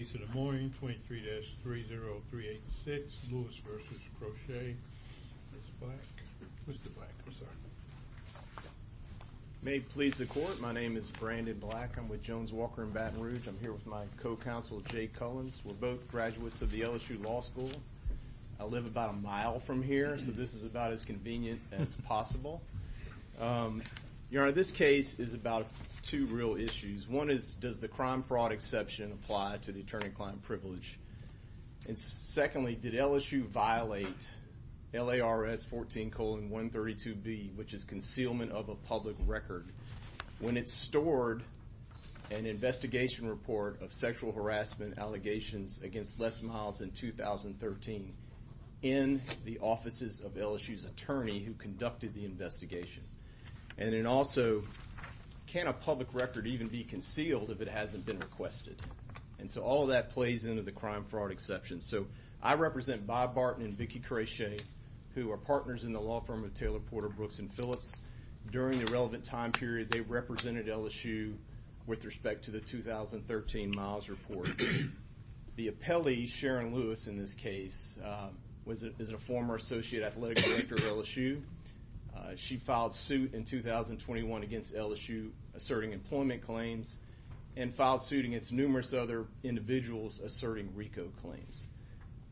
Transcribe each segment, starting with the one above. East of the morning 23-30386 Lewis v. Crochet, Mr. Black, Mr. Black, I'm sorry. May it please the court, my name is Brandon Black. I'm with Jones Walker in Baton Rouge. I'm here with my co-counsel, Jay Cullens. We're both graduates of the LSU Law School. I live about a mile from here, so this is about as convenient as possible. Your Honor, this case is about two real issues. One is, does the crime fraud exception apply to the attorney-client privilege? And secondly, did LSU violate LARS 14-132B, which is concealment of a public record, when it stored an investigation report of sexual harassment allegations against Les Miles in 2013 in the offices of LSU's attorney who conducted the investigation? And then also, can a public record even be concealed if it hasn't been requested? And so all of that plays into the crime fraud exception. So I represent Bob Barton and Vicki Crochet, who are partners in the law firm of Taylor, Porter, Brooks, and Phillips. During the relevant time period, they represented LSU with respect to the 2013 Miles report. The appellee, Sharon Lewis in this case, is a former associate athletic director of LSU. She filed suit in 2021 against LSU, asserting employment claims, and filed suit against numerous other individuals, asserting RICO claims.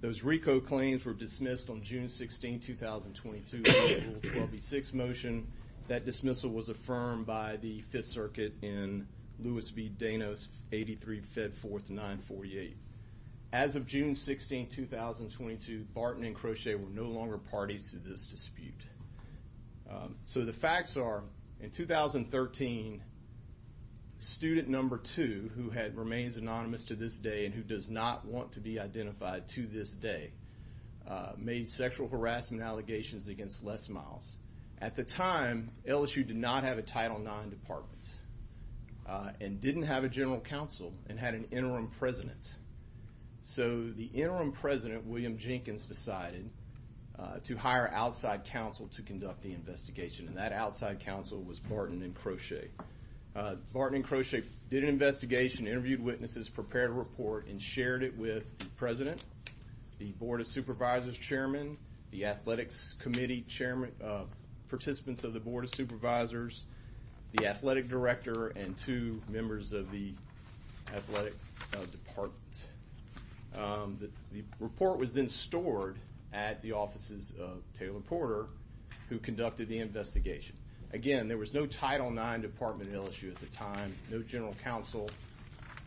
Those RICO claims were dismissed on June 16, 2022, under Rule 12B6 motion. That dismissal was affirmed by the Fifth Circuit in Lewis v. Danos, 83, Fed Fourth, 948. As of June 16, 2022, Barton and Crochet were no longer parties to this dispute. So the facts are, in 2013, student number two, who remains anonymous to this day and who does not want to be identified to this day, made sexual harassment allegations against Les Miles. At the time, LSU did not have a Title IX department and didn't have a general counsel and had an interim president. So the interim president, William Jenkins, decided to hire outside counsel to conduct the investigation. And that outside counsel was Barton and Crochet. Barton and Crochet did an investigation, interviewed witnesses, prepared a report, and shared it with the president, the board of supervisors chairman, the athletics committee participants of the board of supervisors, the athletic director, and two members of the athletic department. The report was then stored at the offices of Taylor Porter, who conducted the investigation. Again, there was no Title IX department at LSU at the time, no general counsel.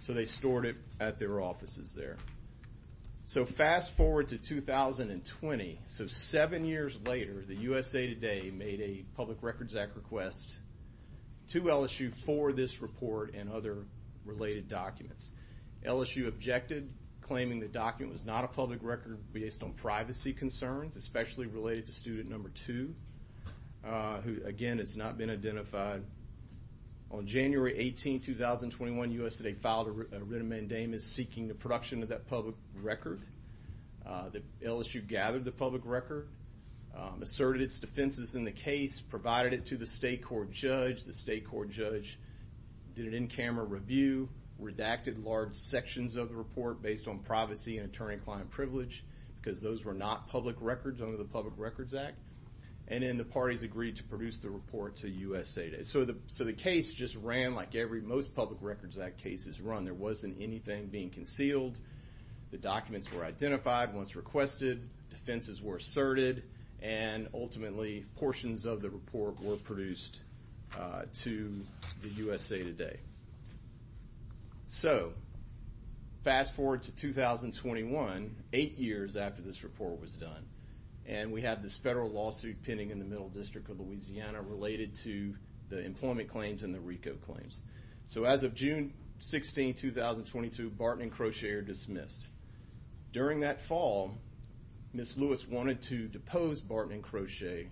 So they stored it at their offices there. So fast forward to 2020, so seven years later, the USA Today made a Public Records Act request to LSU for this report and other related documents. LSU objected, claiming the document was not a public record based on privacy concerns, especially related to student number two, who, again, has not been identified. On January 18, 2021, USA Today filed a written mandamus seeking the production of that public record. The LSU gathered the public record, asserted its defenses in the case, provided it to the state court judge. The state court judge did an in-camera review, redacted large sections of the report based on privacy and attorney-client privilege, because those were not public records under the Public Records Act. And then the parties agreed to produce the report to USA Today. So the case just ran like most Public Records Act cases run. There wasn't anything being concealed. The documents were identified once requested. Defenses were asserted. And ultimately, portions of the report were produced to the USA Today. So fast forward to 2021, eight years after this report was done. And we have this federal lawsuit pending in the Middle District of Louisiana related to the employment claims and the RICO claims. So as of June 16, 2022, Barton & Crochet are dismissed. During that fall, Ms. Lewis wanted to depose Barton & Crochet.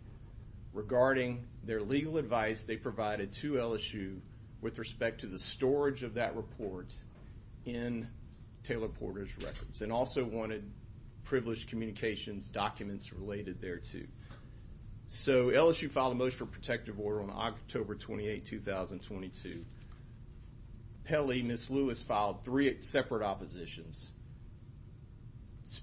Regarding their legal advice they provided to LSU with respect to the storage of that report in Taylor Porter's records. And also wanted privileged communications documents related there too. So LSU filed a motion for protective order on October 28, 2022. Pelley, Ms. Lewis filed three separate oppositions.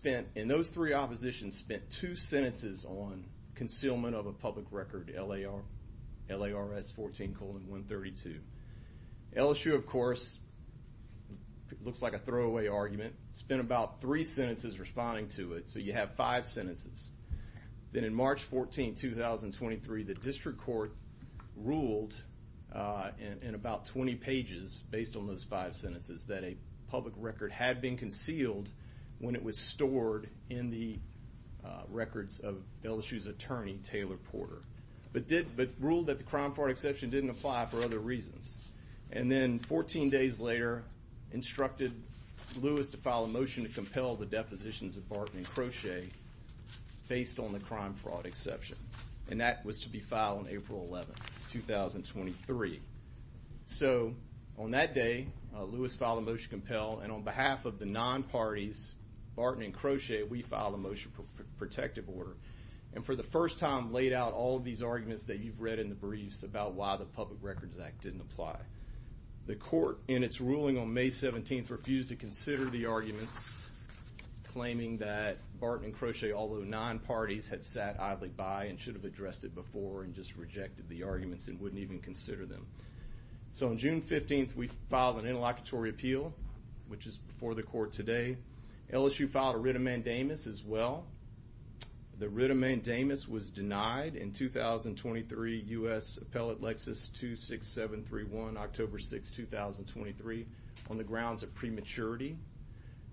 And those three oppositions spent two sentences on concealment of a public record, LARS 14 colon 132. LSU, of course, looks like a throwaway argument, spent about three sentences responding to it. So you have five sentences. Then in March 14, 2023, the district court ruled in about 20 pages, based on those five sentences, that a public record had been concealed when it was stored in the records of LSU's attorney, Taylor Porter. But ruled that the crime fraud exception didn't apply for other reasons. And then 14 days later, instructed Lewis to file a motion to compel the depositions of Barton & Crochet, based on the crime fraud exception. And that was to be filed on April 11, 2023. So on that day, Lewis filed a motion to compel. And on behalf of the non-parties, Barton & Crochet, we filed a motion for protective order. And for the first time, laid out all of these arguments that you've read in the briefs about why the Public Records Act didn't apply. The court, in its ruling on May 17th, refused to consider the arguments, claiming that Barton & Crochet, although non-parties, had sat idly by, and should have addressed it before, and just rejected the arguments, and wouldn't even consider them. So on June 15th, we filed an interlocutory appeal, which is before the court today. LSU filed a writ of mandamus as well. The writ of mandamus was denied in 2023, US Appellate Lexus 26731, October 6, 2023, on the grounds of prematurity.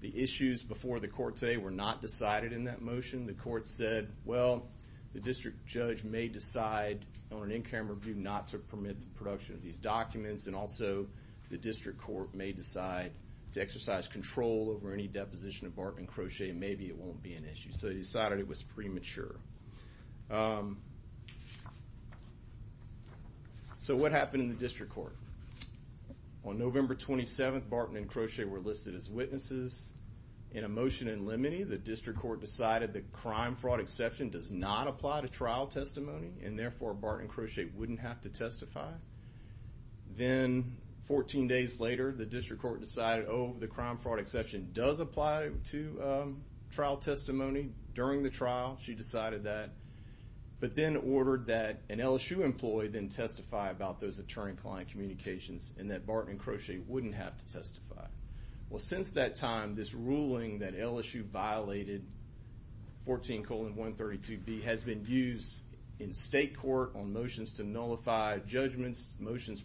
The issues before the court today were not decided in that motion. The court said, well, the district judge may decide, on an in-camera view, not to permit the production of these documents. And also, the district court may decide to exercise control over any deposition of Barton & Crochet, and maybe it won't be an issue. So they decided it was premature. So what happened in the district court? On November 27th, Barton & Crochet were listed as witnesses. In a motion in limine, the district court decided the crime fraud exception does not apply to trial testimony, and therefore, Barton & Crochet wouldn't have to testify. Then, 14 days later, the district court decided, oh, the crime fraud exception does apply to trial testimony during the trial. She decided that, but then ordered that an LSU employee then testify about those attorney-client communications, and that Barton & Crochet wouldn't have to testify. Well, since that time, this ruling that LSU violated 14 colon 132b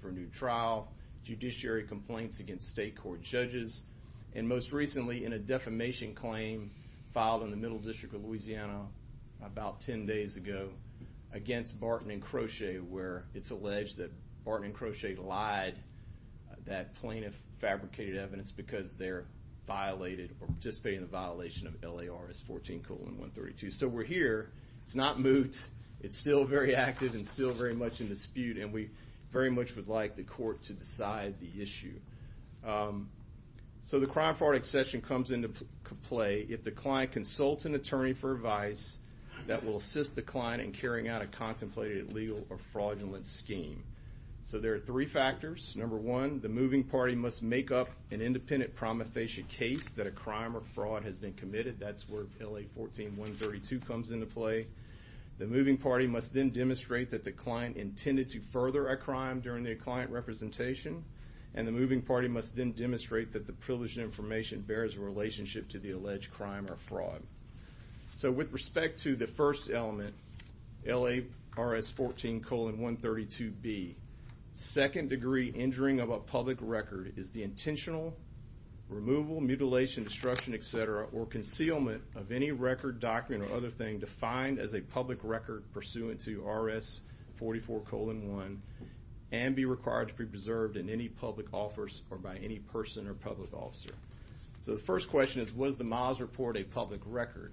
for a new trial, judiciary complaints against state court judges, and most recently, in a defamation claim filed in the Middle District of Louisiana about 10 days ago against Barton & Crochet, where it's alleged that Barton & Crochet lied that plaintiff fabricated evidence because they're violated, or participating in the violation of LARS 14 colon 132. So we're here. It's not moot. It's still very active, and still very much in dispute. And we very much would like the court to decide the issue. So the crime fraud exception comes into play if the client consults an attorney for advice that will assist the client in carrying out a contemplated illegal or fraudulent scheme. So there are three factors. Number one, the moving party must make up an independent prometheation case that a crime or fraud has been committed. That's where LA 14 132 comes into play. The moving party must then demonstrate that the client intended to further a crime during the client representation. And the moving party must then demonstrate that the privileged information bears a relationship to the alleged crime or fraud. So with respect to the first element, LARS 14 colon 132b, second degree injuring of a public record is the intentional removal, mutilation, destruction, et cetera, or concealment of any record, document, or other thing defined as a public record pursuant to RS 44 colon 1, and be required to be preserved in any public office or by any person or public officer. So the first question is, was the Moss report a public record?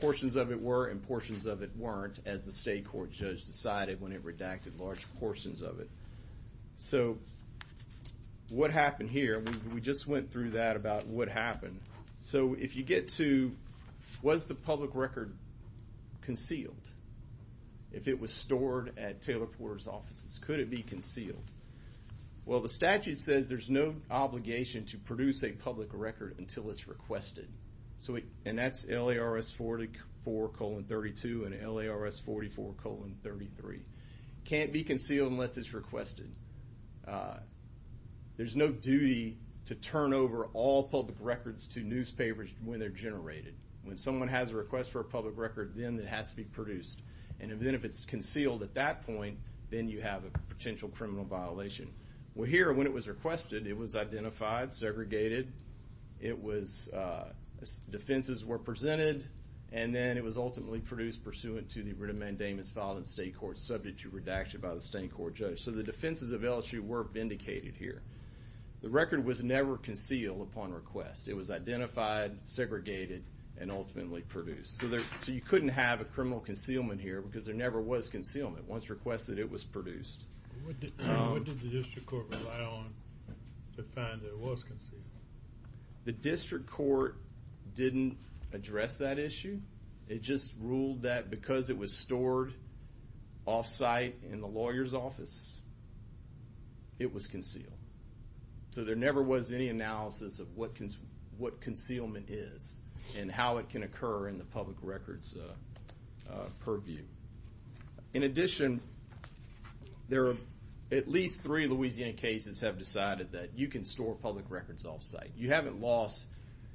Portions of it were and portions of it weren't, as the state court judge decided when it redacted large portions of it. So what happened here, we just went through that about what happened. So if you get to, was the public record concealed? If it was stored at Taylor Porter's offices, could it be concealed? Well, the statute says there's no obligation to produce a public record until it's requested. And that's LARS 44 colon 32 and LARS 44 colon 33. Can't be concealed unless it's requested. There's no duty to turn over all public records to newspapers when they're generated. When someone has a request for a public record, then it has to be produced. And then if it's concealed at that point, then you have a potential criminal violation. Well, here, when it was requested, it was identified, segregated. It was, defenses were presented, and then it was ultimately produced pursuant to the writ of mandamus filed in state court, subject to redaction by the state court judge. So the defenses of LSU were vindicated here. The record was never concealed upon request. It was identified, segregated, and ultimately produced. So you couldn't have a criminal concealment here because there never was concealment. Once requested, it was produced. What did the district court rely on to find that it was concealed? The district court didn't address that issue. It just ruled that because it was stored off-site in the lawyer's office, it was concealed. So there never was any analysis of what concealment is and how it can occur in the public records purview. In addition, there are at least three Louisiana cases have decided that you can store public records off-site. You haven't lost.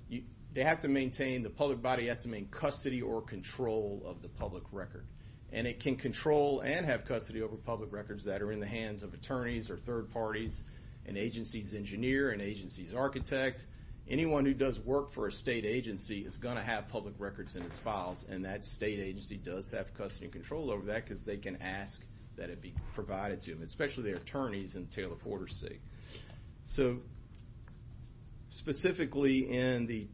They have to maintain, the public body has to maintain custody or control of the public record. And it can control and have custody over public records that are in the hands of attorneys or third parties, an agency's engineer, an agency's architect. Anyone who does work for a state agency is going to have public records in its files. And that state agency does have custody and control over that because they can ask that it be provided to them, especially the attorneys in Taylor Porter City. So specifically in the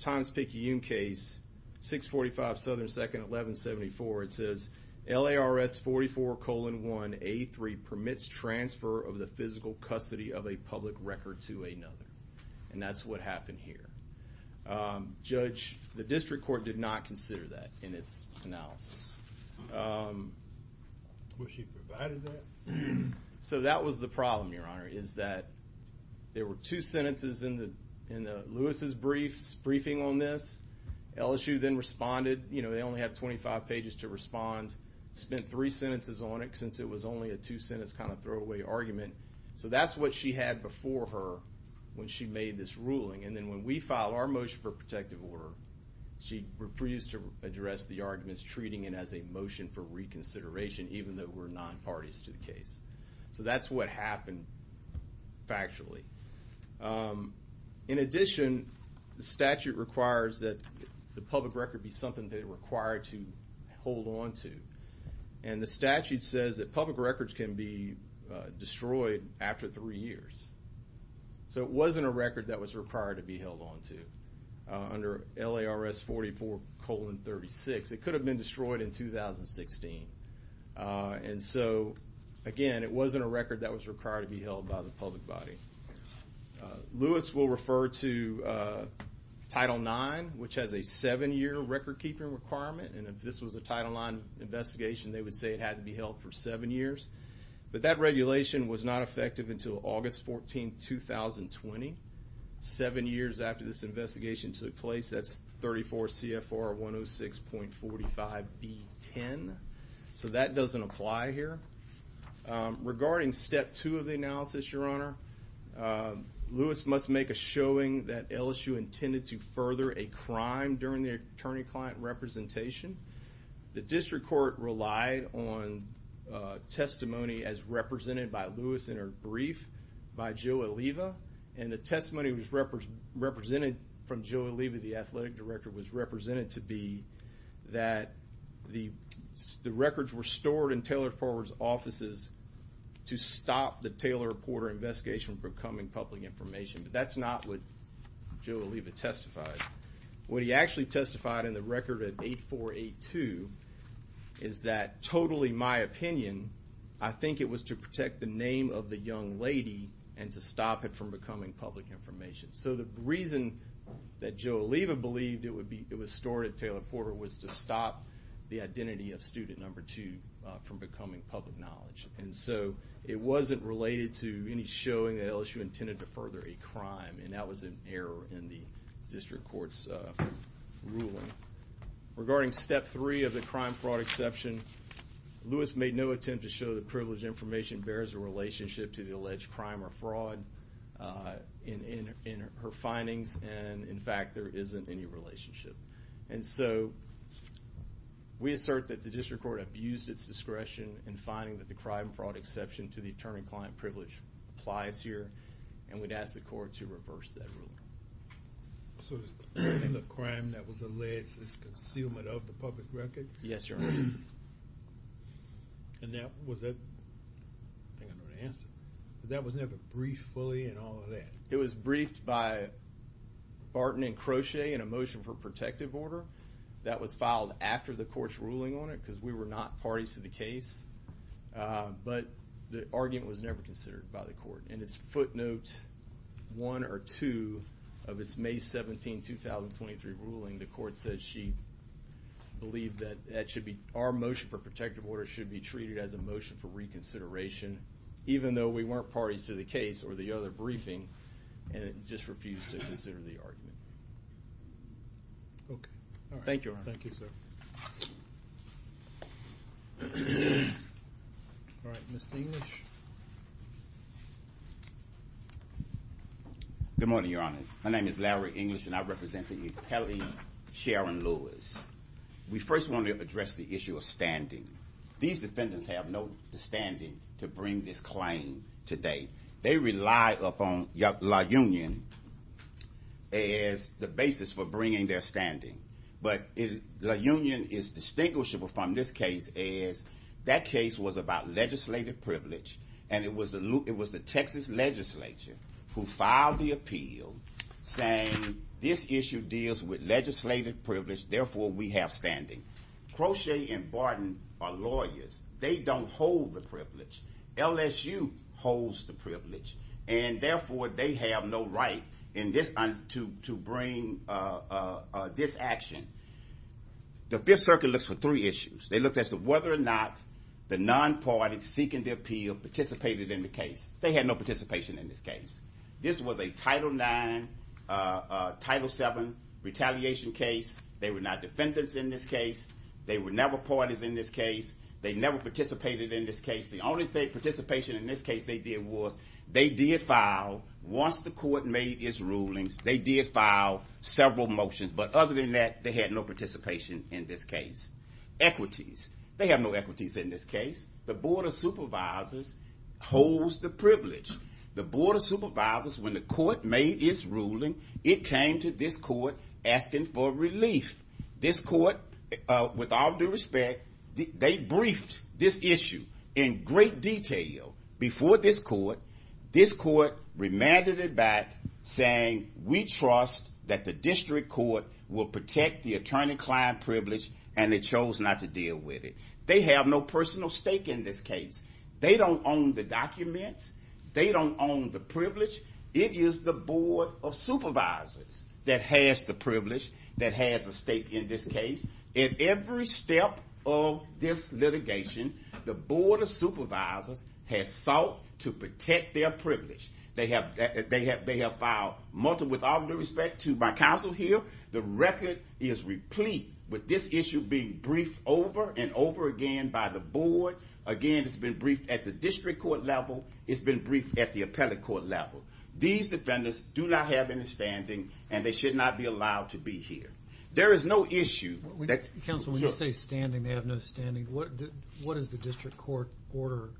Thomas Picayune case, 645 Southern 2nd, 1174, it says, LARS 44 colon 1A3 permits transfer of the physical custody of a public record to another. And that's what happened here. Judge, the district court did not consider that in its analysis. Was she provided that? So that was the problem, Your Honor, is that there were two sentences in the Lewis's briefing on this. LSU then responded. You know, they only have 25 pages to respond. Spent three sentences on it, since it was only a two-sentence kind of throwaway argument. So that's what she had before her when she made this ruling. And then when we filed our motion for protective order, she refused to address the arguments treating it as a motion for reconsideration, even though we're nine parties to the case. So that's what happened factually. In addition, the statute requires that the public record be something they're required to hold onto. And the statute says that public records can be destroyed after three years. So it wasn't a record that was required to be held onto. Under LARS 44 colon 36, it could have been destroyed in 2016. And so, again, it wasn't a record that was required to be held by the public body. Lewis will refer to Title IX, which has a seven-year record keeping requirement. And if this was a Title IX investigation, they would say it had to be held for seven years. But that regulation was not effective until August 14, 2020. Seven years after this investigation took place, that's 34 CFR 106.45B10. So that doesn't apply here. Regarding step two of the analysis, your honor, Lewis must make a showing that LSU intended to further a crime during the attorney-client representation. The district court relied on testimony as represented by Lewis in her brief by Joe Oliva. And the testimony was represented from Joe Oliva, the athletic director, was represented to be that the records were stored in Taylor Forward's offices to stop the Taylor Reporter investigation from becoming public information. But that's not what Joe Oliva testified. What he actually testified in the record at 8482 is that, totally my opinion, I think it was to protect the name of the young lady and to stop it from becoming public information. So the reason that Joe Oliva believed it was stored at Taylor Porter was to stop the identity of student number two from becoming public knowledge. And so it wasn't related to any showing that LSU intended to further a crime. And that was an error in the district court's ruling. Regarding step three of the crime fraud exception, Lewis made no attempt to show that privileged information bears a relationship to the alleged crime or fraud in her findings. And in fact, there isn't any relationship. And so we assert that the district court abused its discretion in finding that the crime fraud exception to the attorney-client privilege applies here. And we'd ask the court to reverse that ruling. So the crime that was alleged is concealment of the public record? Yes, Your Honor. And that was never briefed fully and all of that? It was briefed by Barton and Crochet in a motion for protective order. That was filed after the court's ruling on it, because we were not parties to the case. But the argument was never considered by the court. In its footnote one or two of its May 17, 2023 ruling, the court said she believed that our motion for protective order should be treated as a motion for reconsideration, even though we weren't parties to the case or the other briefing, and it just refused to consider the argument. OK. All right. Thank you, Your Honor. Thank you, sir. All right. Mr. English? Good morning, Your Honors. My name is Larry English, and I represent the Pele-Sharon Lewis. We first want to address the issue of standing. These defendants have no standing to bring this claim today. They rely upon La Union as the basis for bringing their standing. But La Union is distinguishable from this case as that case was about legislative privilege. And it was the Texas legislature who filed the appeal saying this issue deals with legislative privilege, therefore we have standing. Crochet and Barton are lawyers. They don't hold the privilege. LSU holds the privilege, and therefore they have no right to bring this action. The Fifth Circuit looks for three issues. They looked at whether or not the non-party seeking the appeal participated in the case. They had no participation in this case. This was a Title IX, Title VII retaliation case. They were not defendants in this case. They were never parties in this case. They never participated in this case. The only participation in this case they did was, they did file, once the court made its rulings, they did file several motions. But other than that, they had no participation in this case. Equities. They have no equities in this case. The Board of Supervisors holds the privilege. The Board of Supervisors, when the court made its ruling, it came to this court asking for relief. This court, with all due respect, they briefed this issue in great detail before this court. This court remanded it back saying, we trust that the district court will protect the attorney client privilege, and they chose not to deal with it. They have no personal stake in this case. They don't own the documents. They don't own the privilege. It is the Board of Supervisors that has the privilege, that has a stake in this case. At every step of this litigation, the Board of Supervisors has sought to protect their privilege. They have filed multiple, with all due respect, to my counsel here. The record is replete with this issue being briefed over and over again by the board. Again, it's been briefed at the district court level. It's been briefed at the appellate court level. These defendants do not have any standing, and they should not be allowed to be here. There is no issue. Counsel, when you say standing, they have no standing, what does the district court order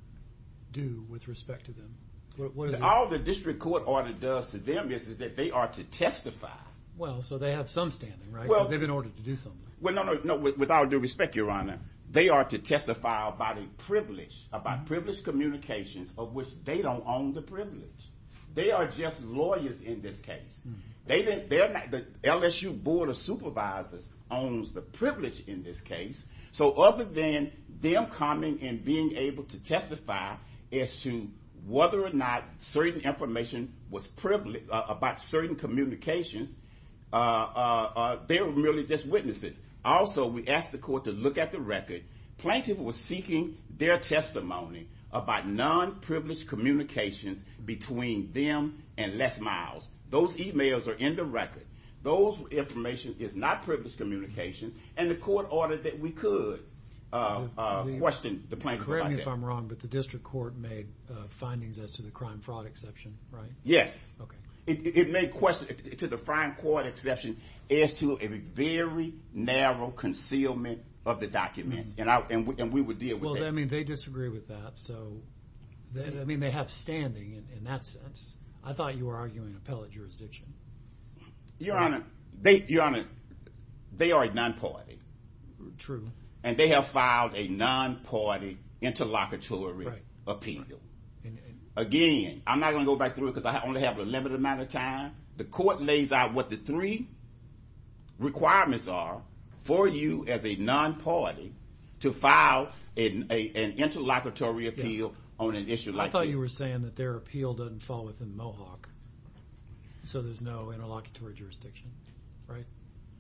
do with respect to them? All the district court order does to them is that they are to testify. Well, so they have some standing, right? They've been ordered to do something. Well, no, no, no. With all due respect, Your Honor, they are to testify about a privilege, about privileged communications of which they don't own the privilege. They are just lawyers in this case. The LSU Board of Supervisors owns the privilege in this case, so other than them coming and being able to testify as to whether or not certain information about certain communications, they're really just witnesses. Also, we asked the court to look at the record. Plaintiff was seeking their testimony about non-privileged communications between them and Les Miles. Those emails are in the record. Those information is not privileged communication, and the court ordered that we could question the plaintiff. Correct me if I'm wrong, but the district court made findings as to the crime fraud exception, right? Yes. It made questions to the crime fraud exception as to a very narrow concealment of the documents. And we would deal with that. Well, I mean, they disagree with that. So I mean, they have standing in that sense. I thought you were arguing appellate jurisdiction. Your Honor, they are a non-party. True. And they have filed a non-party interlocutory appeal. Again, I'm not going to go back through it because I only have a limited amount of time. The court lays out what the three requirements are for you as a non-party to file an interlocutory appeal on an issue like this. I thought you were saying that their appeal doesn't fall within Mohawk. So there's no interlocutory jurisdiction, right?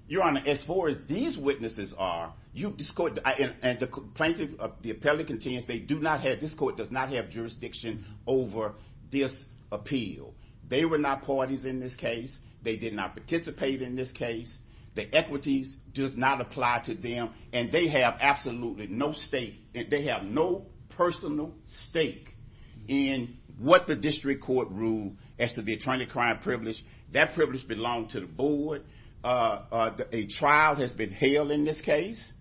Your Honor, as far as these witnesses are, you've discorded. And the plaintiff, the appellate, contains they do not have, this court does not have, jurisdiction over this appeal. They were not parties in this case. They did not participate in this case. The equities does not apply to them. And they have absolutely no stake. They have no personal stake in what the district court ruled as to the attorney crime privilege. That privilege belonged to the board. A trial has been held in this case.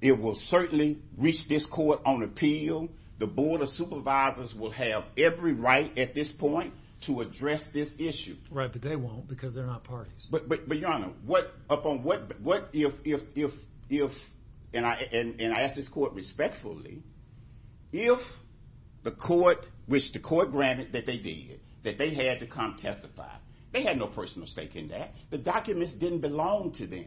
It will certainly reach this court on appeal. The board of supervisors will have every right at this point to address this issue. Right, but they won't because they're not parties. But Your Honor, what if, and I ask this court respectfully, if the court, which the court granted that they did, that they had to come testify, they had no personal stake in that. The documents didn't belong to them.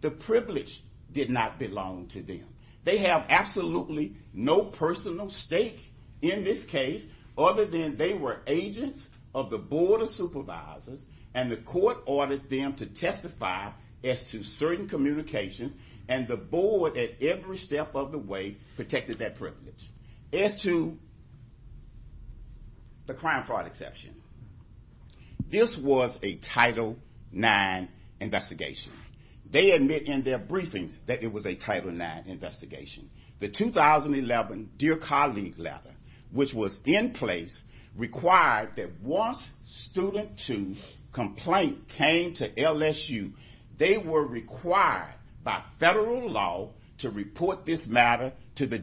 The privilege did not belong to them. They have absolutely no personal stake in this case other than they were agents of the board of supervisors and the court ordered them to testify as to certain communications. And the board, at every step of the way, protected that privilege. As to the crime fraud exception, this was a Title IX investigation. They admit in their briefings that it was a Title IX investigation. The 2011 Dear Colleague letter, which was in place, required that once student two complaint came to LSU, they were required by federal law to report this matter to the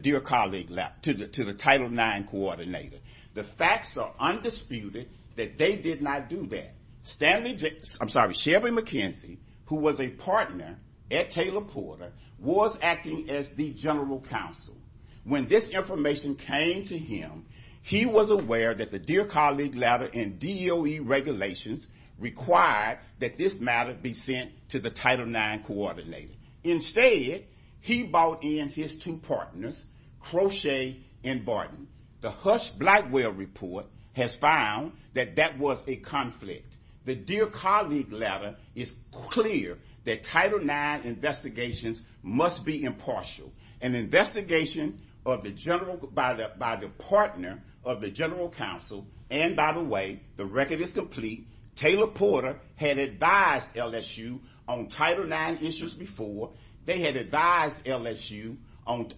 Title IX coordinator. The facts are undisputed that they did not do that. Stanley, I'm sorry, Shelby McKenzie, who was a partner at Taylor Porter, was acting as the general counsel. When this information came to him, he was aware that the Dear Colleague letter and DOE regulations required that this matter be sent to the Title IX coordinator. Instead, he brought in his two partners, Crochet and Barton. The Hush-Blackwell report has found that that was a conflict. The Dear Colleague letter is clear that Title IX investigations must be impartial. An investigation by the partner of the general counsel, and by the way, the record is complete, Taylor Porter had advised LSU on Title IX issues before. They had advised LSU on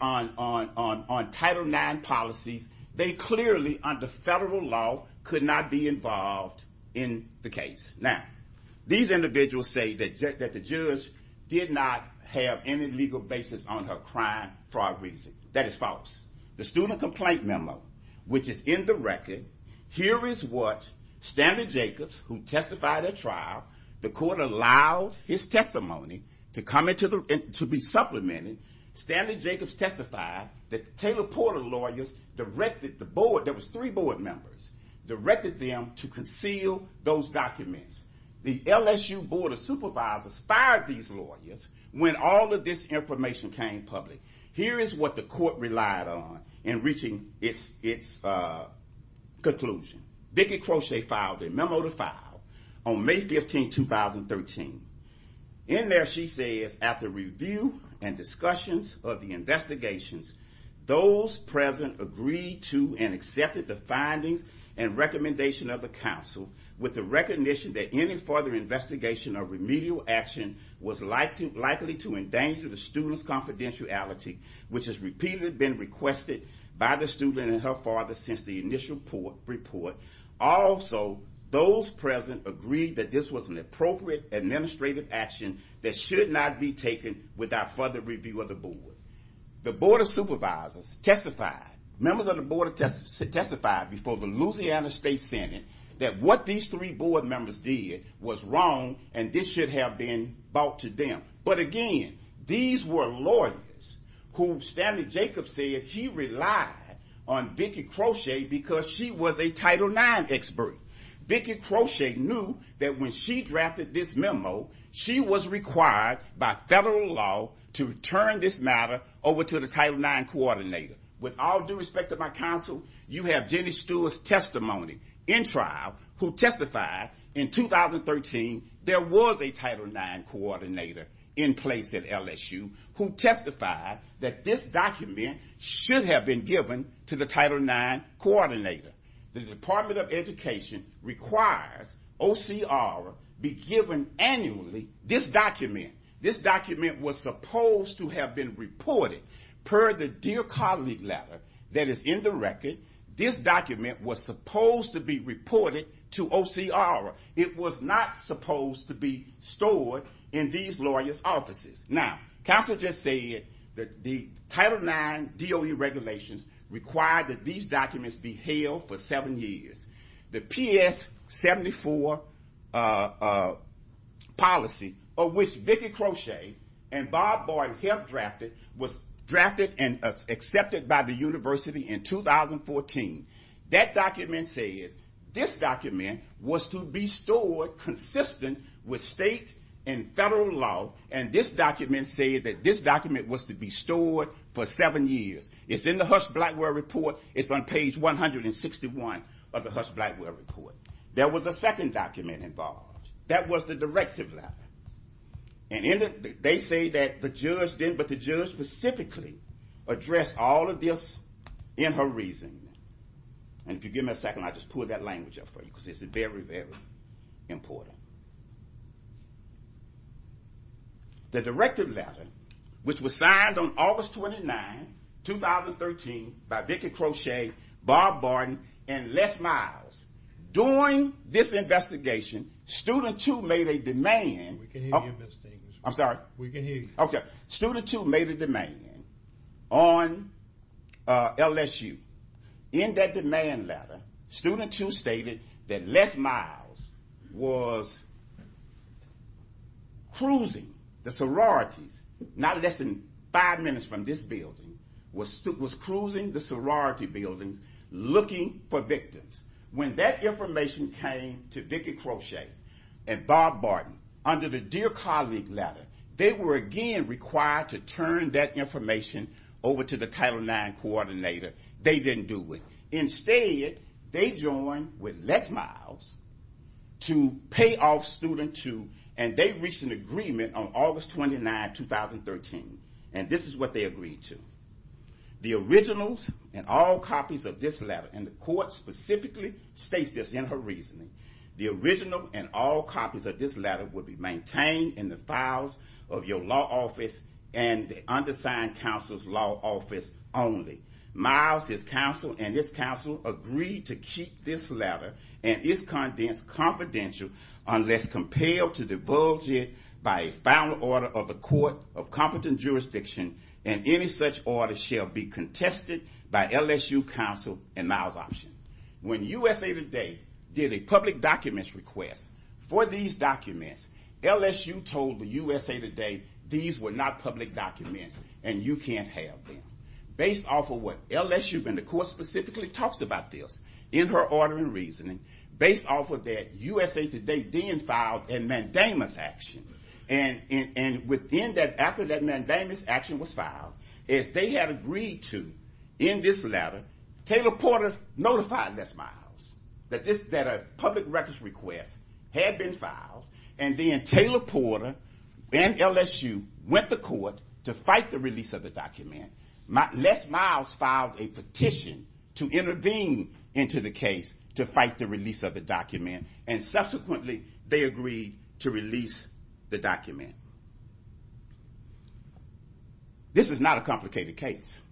Title IX policies. They clearly, under federal law, could not be involved in the case. Now, these individuals say that the judge did not have any legal basis on her crime, fraud, reason. That is false. The student complaint memo, which is in the record, here is what Stanley Jacobs, who testified at trial, the court allowed his testimony to be supplemented. Stanley Jacobs testified that the Taylor Porter lawyers directed the board, there was three board members, directed them to conceal those documents. The LSU board of supervisors fired these lawyers when all of this information came public. Here is what the court relied on in reaching its conclusion. Vickie Crochet filed a memo to file on May 15, 2013. In there, she says, after review and discussions of the investigations, those present agreed to and accepted the findings and recommendation of the counsel with the recognition that any further investigation or remedial action was likely to endanger the student's confidentiality, which has repeatedly been requested by the student and her father since the initial report. Also, those present agreed that this was an appropriate administrative action that should not be taken without further review of the board. The board of supervisors testified, members of the board testified before the Louisiana State Senate, that what these three board members did was wrong, and this should have been brought to them. But again, these were lawyers who Stanley Jacobs said he relied on Vickie Crochet because she was a Title IX expert. Vickie Crochet knew that when she drafted this memo, she was required by federal law to turn this matter over to the Title IX coordinator. With all due respect to my counsel, you have Jenny Stewart's testimony in trial who testified in 2013 there was a Title IX coordinator in place at LSU who testified that this document should have been given to the Title IX coordinator. The Department of Education requires OCR be given annually this document. This document was supposed to have been reported. Per the dear colleague letter that is in the record, this document was supposed to be reported to OCR. It was not supposed to be stored in these lawyers' offices. Now, counsel just said that the Title IX DOE regulations require that these documents be held for seven years. The PS 74 policy of which Vickie Crochet and Bob Boyd have drafted was drafted and accepted by the university in 2014. That document says this document was to be stored consistent with state and federal law. And this document said that this document was to be stored for seven years. It's in the Hush Blackwell report. It's on page 161 of the Hush Blackwell report. There was a second document involved. That was the directive letter. And they say that the judge didn't, address all of this in her reasoning. And if you give me a second, I'll just pull that language up for you because it's very, very important. The directive letter, which was signed on August 29, 2013, by Vickie Crochet, Bob Boyd, and Les Miles, during this investigation, student two made a demand. We can hear you, Mr. Englishman. I'm sorry? We can hear you. OK. Student two made a demand on LSU. In that demand letter, student two stated that Les Miles was cruising the sororities, not less than five minutes from this building, was cruising the sorority buildings looking for victims. When that information came to Vickie Crochet and Bob Boyd under the Dear Colleague letter, they were again required to turn that information over to the Title IX coordinator. They didn't do it. Instead, they joined with Les Miles to pay off student two. And they reached an agreement on August 29, 2013. And this is what they agreed to. The originals and all copies of this letter, and the court specifically states this in her reasoning, the original and all copies of this letter will be maintained in the files of your law office and the undersigned counsel's law office only. Miles' counsel and his counsel agreed to keep this letter and its contents confidential unless compelled to divulge it by a found order of the Court of Competent Jurisdiction. And any such order shall be contested by LSU counsel and Miles' option. When USA Today did a public documents request for these documents, LSU told the USA Today these were not public documents, and you can't have them. Based off of what LSU, and the court specifically talks about this in her order and reasoning, based off of that, USA Today then filed a mandamus action. And after that mandamus action was filed, as they had agreed to in this letter, Taylor Porter notified Les Miles that a public records request had been filed. And then Taylor Porter and LSU went to court to fight the release of the document. Les Miles filed a petition to intervene into the case to fight the release of the document. And subsequently, they agreed to release the document. This is not a complicated case.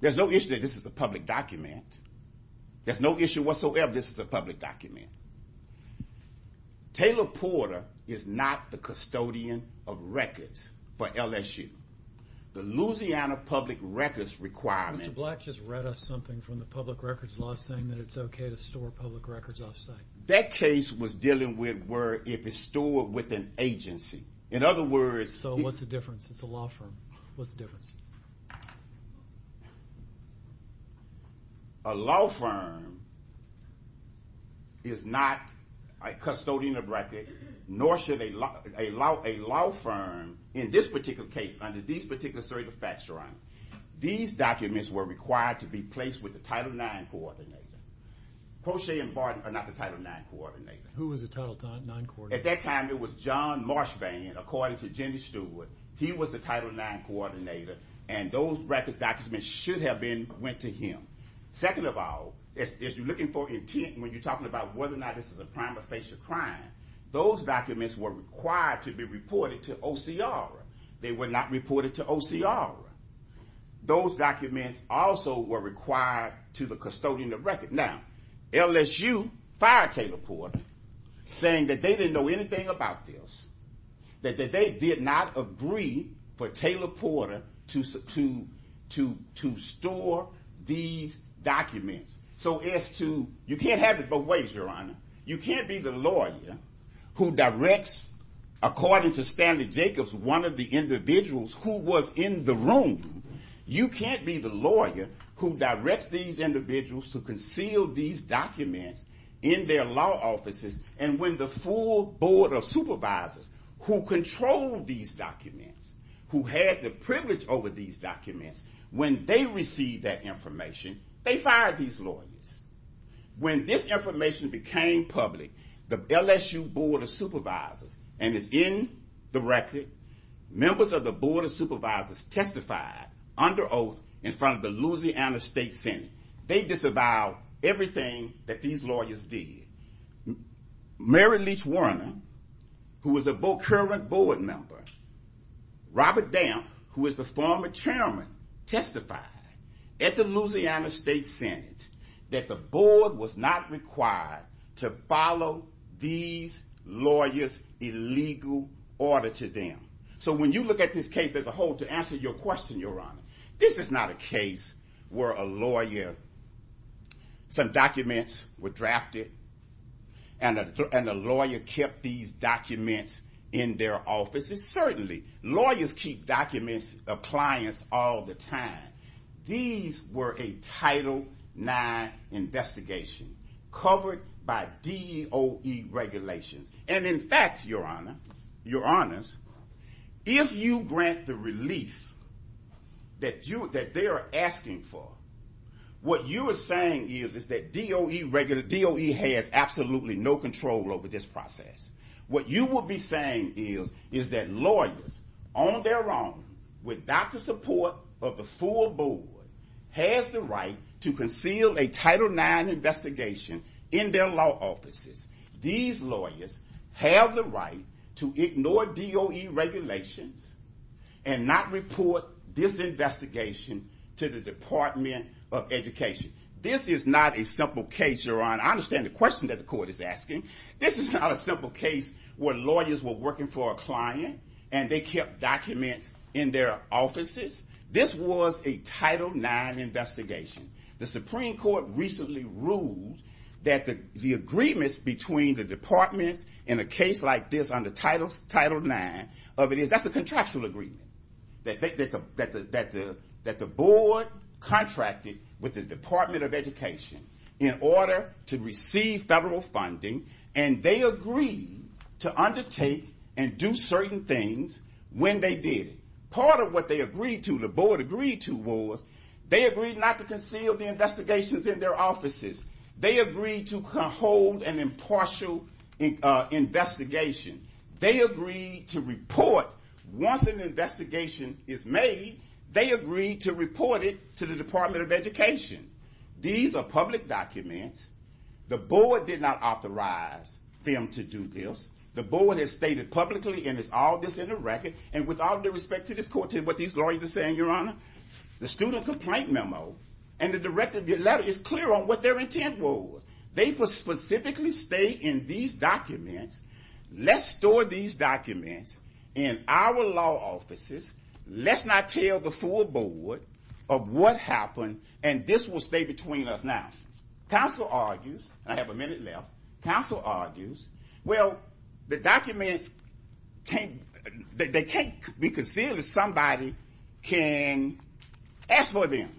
There's no issue that this is a public document. There's no issue whatsoever. This is a public document. Taylor Porter is not the custodian of records for LSU. The Louisiana public records requirement. Mr. Black just read us something from the public records law saying that it's OK to store public records off-site. That case was dealing with if it's stored with an agency. In other words, So what's the difference? It's a law firm. What's the difference? A law firm is not a custodian of records, nor should a law firm in this particular case, under these particular circumstances, these documents were required to be placed with the Title IX coordinator. Poche and Barton are not the Title IX coordinator. Who was the Title IX coordinator? At that time, it was John Marshvane, according to Jimmy Stewart. He was the Title IX coordinator. And those records documents should have been went to him. Second of all, if you're looking for intent when you're talking about whether or not this is a crime or facial crime, those documents were required to be reported to OCR. They were not reported to OCR. Those documents also were required to the custodian of records. Now, LSU fired Taylor Porter, saying that they didn't know anything about this, that they did not agree for Taylor Porter to store these documents. So as to, you can't have it both ways, Your Honor. You can't be the lawyer who directs, according to Stanley Jacobs, one of the individuals who was in the room. You can't be the lawyer who directs these individuals to conceal these documents in their law offices. And when the full Board of Supervisors, who control these documents, who had the privilege over these documents, when they received that information, they fired these lawyers. When this information became public, the LSU Board of Supervisors, and it's in the record, members of the Board of Supervisors testified under oath in front of the Louisiana State Senate. They disavowed everything that these lawyers did. Mary Leach Warner, who was a current board member, Robert Dam, who was the former chairman, testified at the Louisiana State Senate that the board was not required to follow these lawyers' illegal order to them. So when you look at this case as a whole, to answer your question, Your Honor, this is not a case where a lawyer, some documents were drafted, and a lawyer kept these documents in their offices. Certainly, lawyers keep documents of clients all the time. These were a Title IX investigation covered by DOE regulations. And in fact, Your Honor, Your Honors, if you grant the relief that they are asking for, what you are saying is that DOE has absolutely no control over this process. What you will be saying is that lawyers, on their own, without the support of the full board, has the right to conceal a Title IX investigation in their law offices. These lawyers have the right to ignore DOE regulations and not report this investigation to the Department of Education. This is not a simple case, Your Honor. I understand the question that the court is asking. This is not a simple case where lawyers were working for a client, and they kept documents in their offices. This was a Title IX investigation. The Supreme Court recently ruled that the agreements between the departments in a case like this under Title IX, that's a contractual agreement, that the board contracted with the Department of Education in order to receive federal funding, and they agreed to undertake and do certain things when they did it. Part of what they agreed to, the board agreed to, was they agreed not to conceal the investigations in their offices. They agreed to hold an impartial investigation. They agreed to report. Once an investigation is made, they agreed to report it to the Department of Education. These are public documents. The board did not authorize them to do this. The board has stated publicly, and it's all this in the record. And with all due respect to this court, to what these lawyers are saying, Your Honor, the student complaint memo and the director of the letter is clear on what their intent was. They specifically state in these documents, let's store these documents in our law offices. Let's not tell the full board of what happened, and this will stay between us now. Counsel argues, and I have a minute left, counsel argues, well, the documents, they can't be concealed if somebody can ask for them.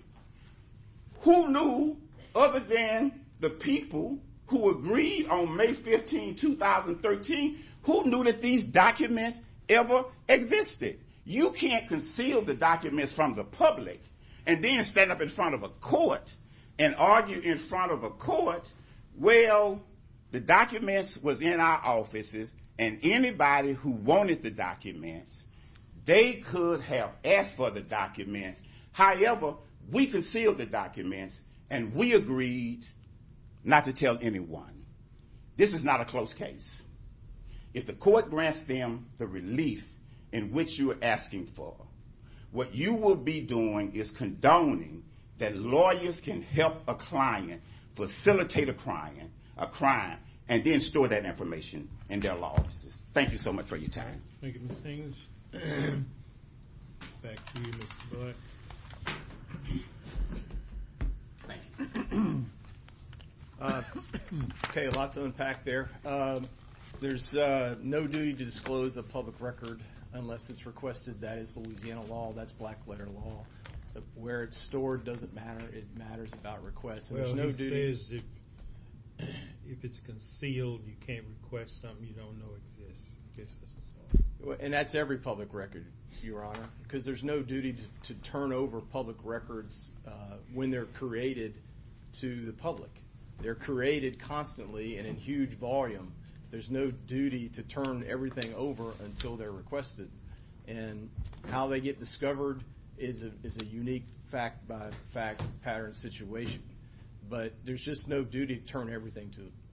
Who knew, other than the people who agreed on May 15, 2013, who knew that these documents ever existed? You can't conceal the documents from the public and then stand up in front of a court and argue in front of a court, well, the documents was in our offices, and anybody who wanted the documents, they could have asked for the documents. However, we concealed the documents, and we agreed not to tell anyone. This is not a close case. If the court grants them the relief in which you are asking for, what you will be doing is condoning that lawyers can help a client facilitate a crime and then store that information in their law offices. Thank you so much for your time. Thank you, Mr. English. Back to you, Mr. Black. Thank you. OK, a lot to unpack there. There's no duty to disclose a public record unless it's requested. That is the Louisiana law. That's black letter law. Where it's stored doesn't matter. It matters about requests. Well, no duty is if it's concealed, you can't request something you don't know exists. And that's every public record, Your Honor, because there's no duty to turn over public records when they're created to the public. They're created constantly and in huge volume. There's no duty to turn everything over until they're requested. And how they get discovered is a unique fact by fact pattern situation. But there's just no duty to turn everything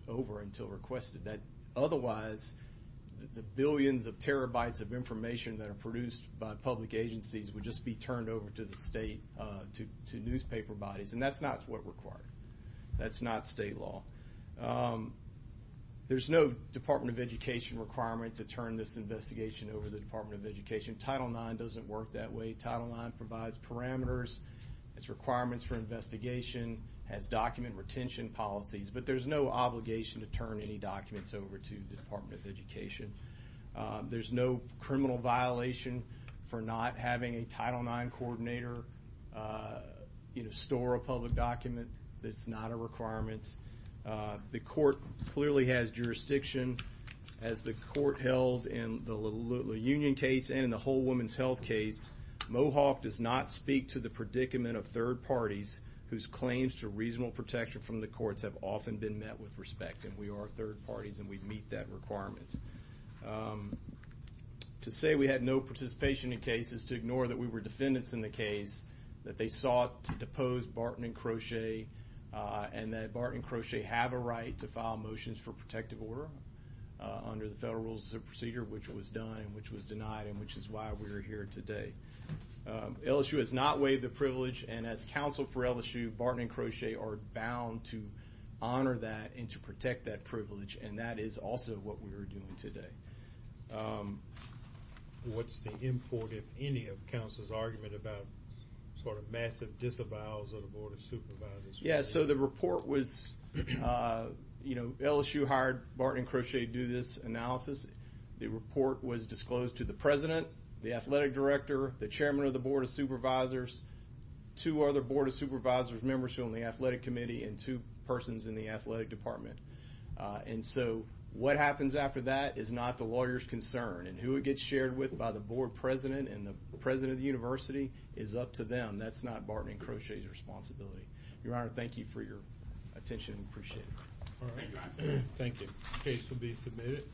over until requested. Otherwise, the billions of terabytes of information that are produced by public agencies would just be turned over to the state, to newspaper bodies. And that's not what's required. That's not state law. There's no Department of Education requirement to turn this investigation over to the Department of Education. Title IX doesn't work that way. Title IX provides parameters, its requirements for investigation, has document retention policies. But there's no obligation to turn any documents over to the Department of Education. There's no criminal violation for not having a Title IX coordinator store a public document. That's not a requirement. The court clearly has jurisdiction. As the court held in the La Union case and in the Whole Woman's Health case, Mohawk does not speak to the predicament of third parties whose claims to reasonable protection from the courts have often been met with respect. And we are third parties, and we meet that requirement. To say we had no participation in the case is to ignore that we were defendants in the case, that they sought to depose Barton and Crochet, and that Barton and Crochet have a right to file motions for protective order under the Federal Rules of Procedure, which was done, and which was denied, and which is why we are here today. LSU has not waived the privilege. And as counsel for LSU, Barton and Crochet are bound to honor that and to protect that privilege. And that is also what we are doing today. What's the import, if any, of counsel's argument about massive disavowals of the Board of Supervisors? Yeah, so the report was LSU hired Barton and Crochet to do this analysis. The report was disclosed to the president, the athletic director, the chairman of the Board of Supervisors, two other Board of Supervisors members from the athletic committee, and two persons in the athletic department. And so what happens after that is not the lawyer's concern. And who it gets shared with by the board president and the president of the university is up to them. That's not Barton and Crochet's responsibility. Your Honor, thank you for your attention. Appreciate it. All right. Thank you. Case will be submitted.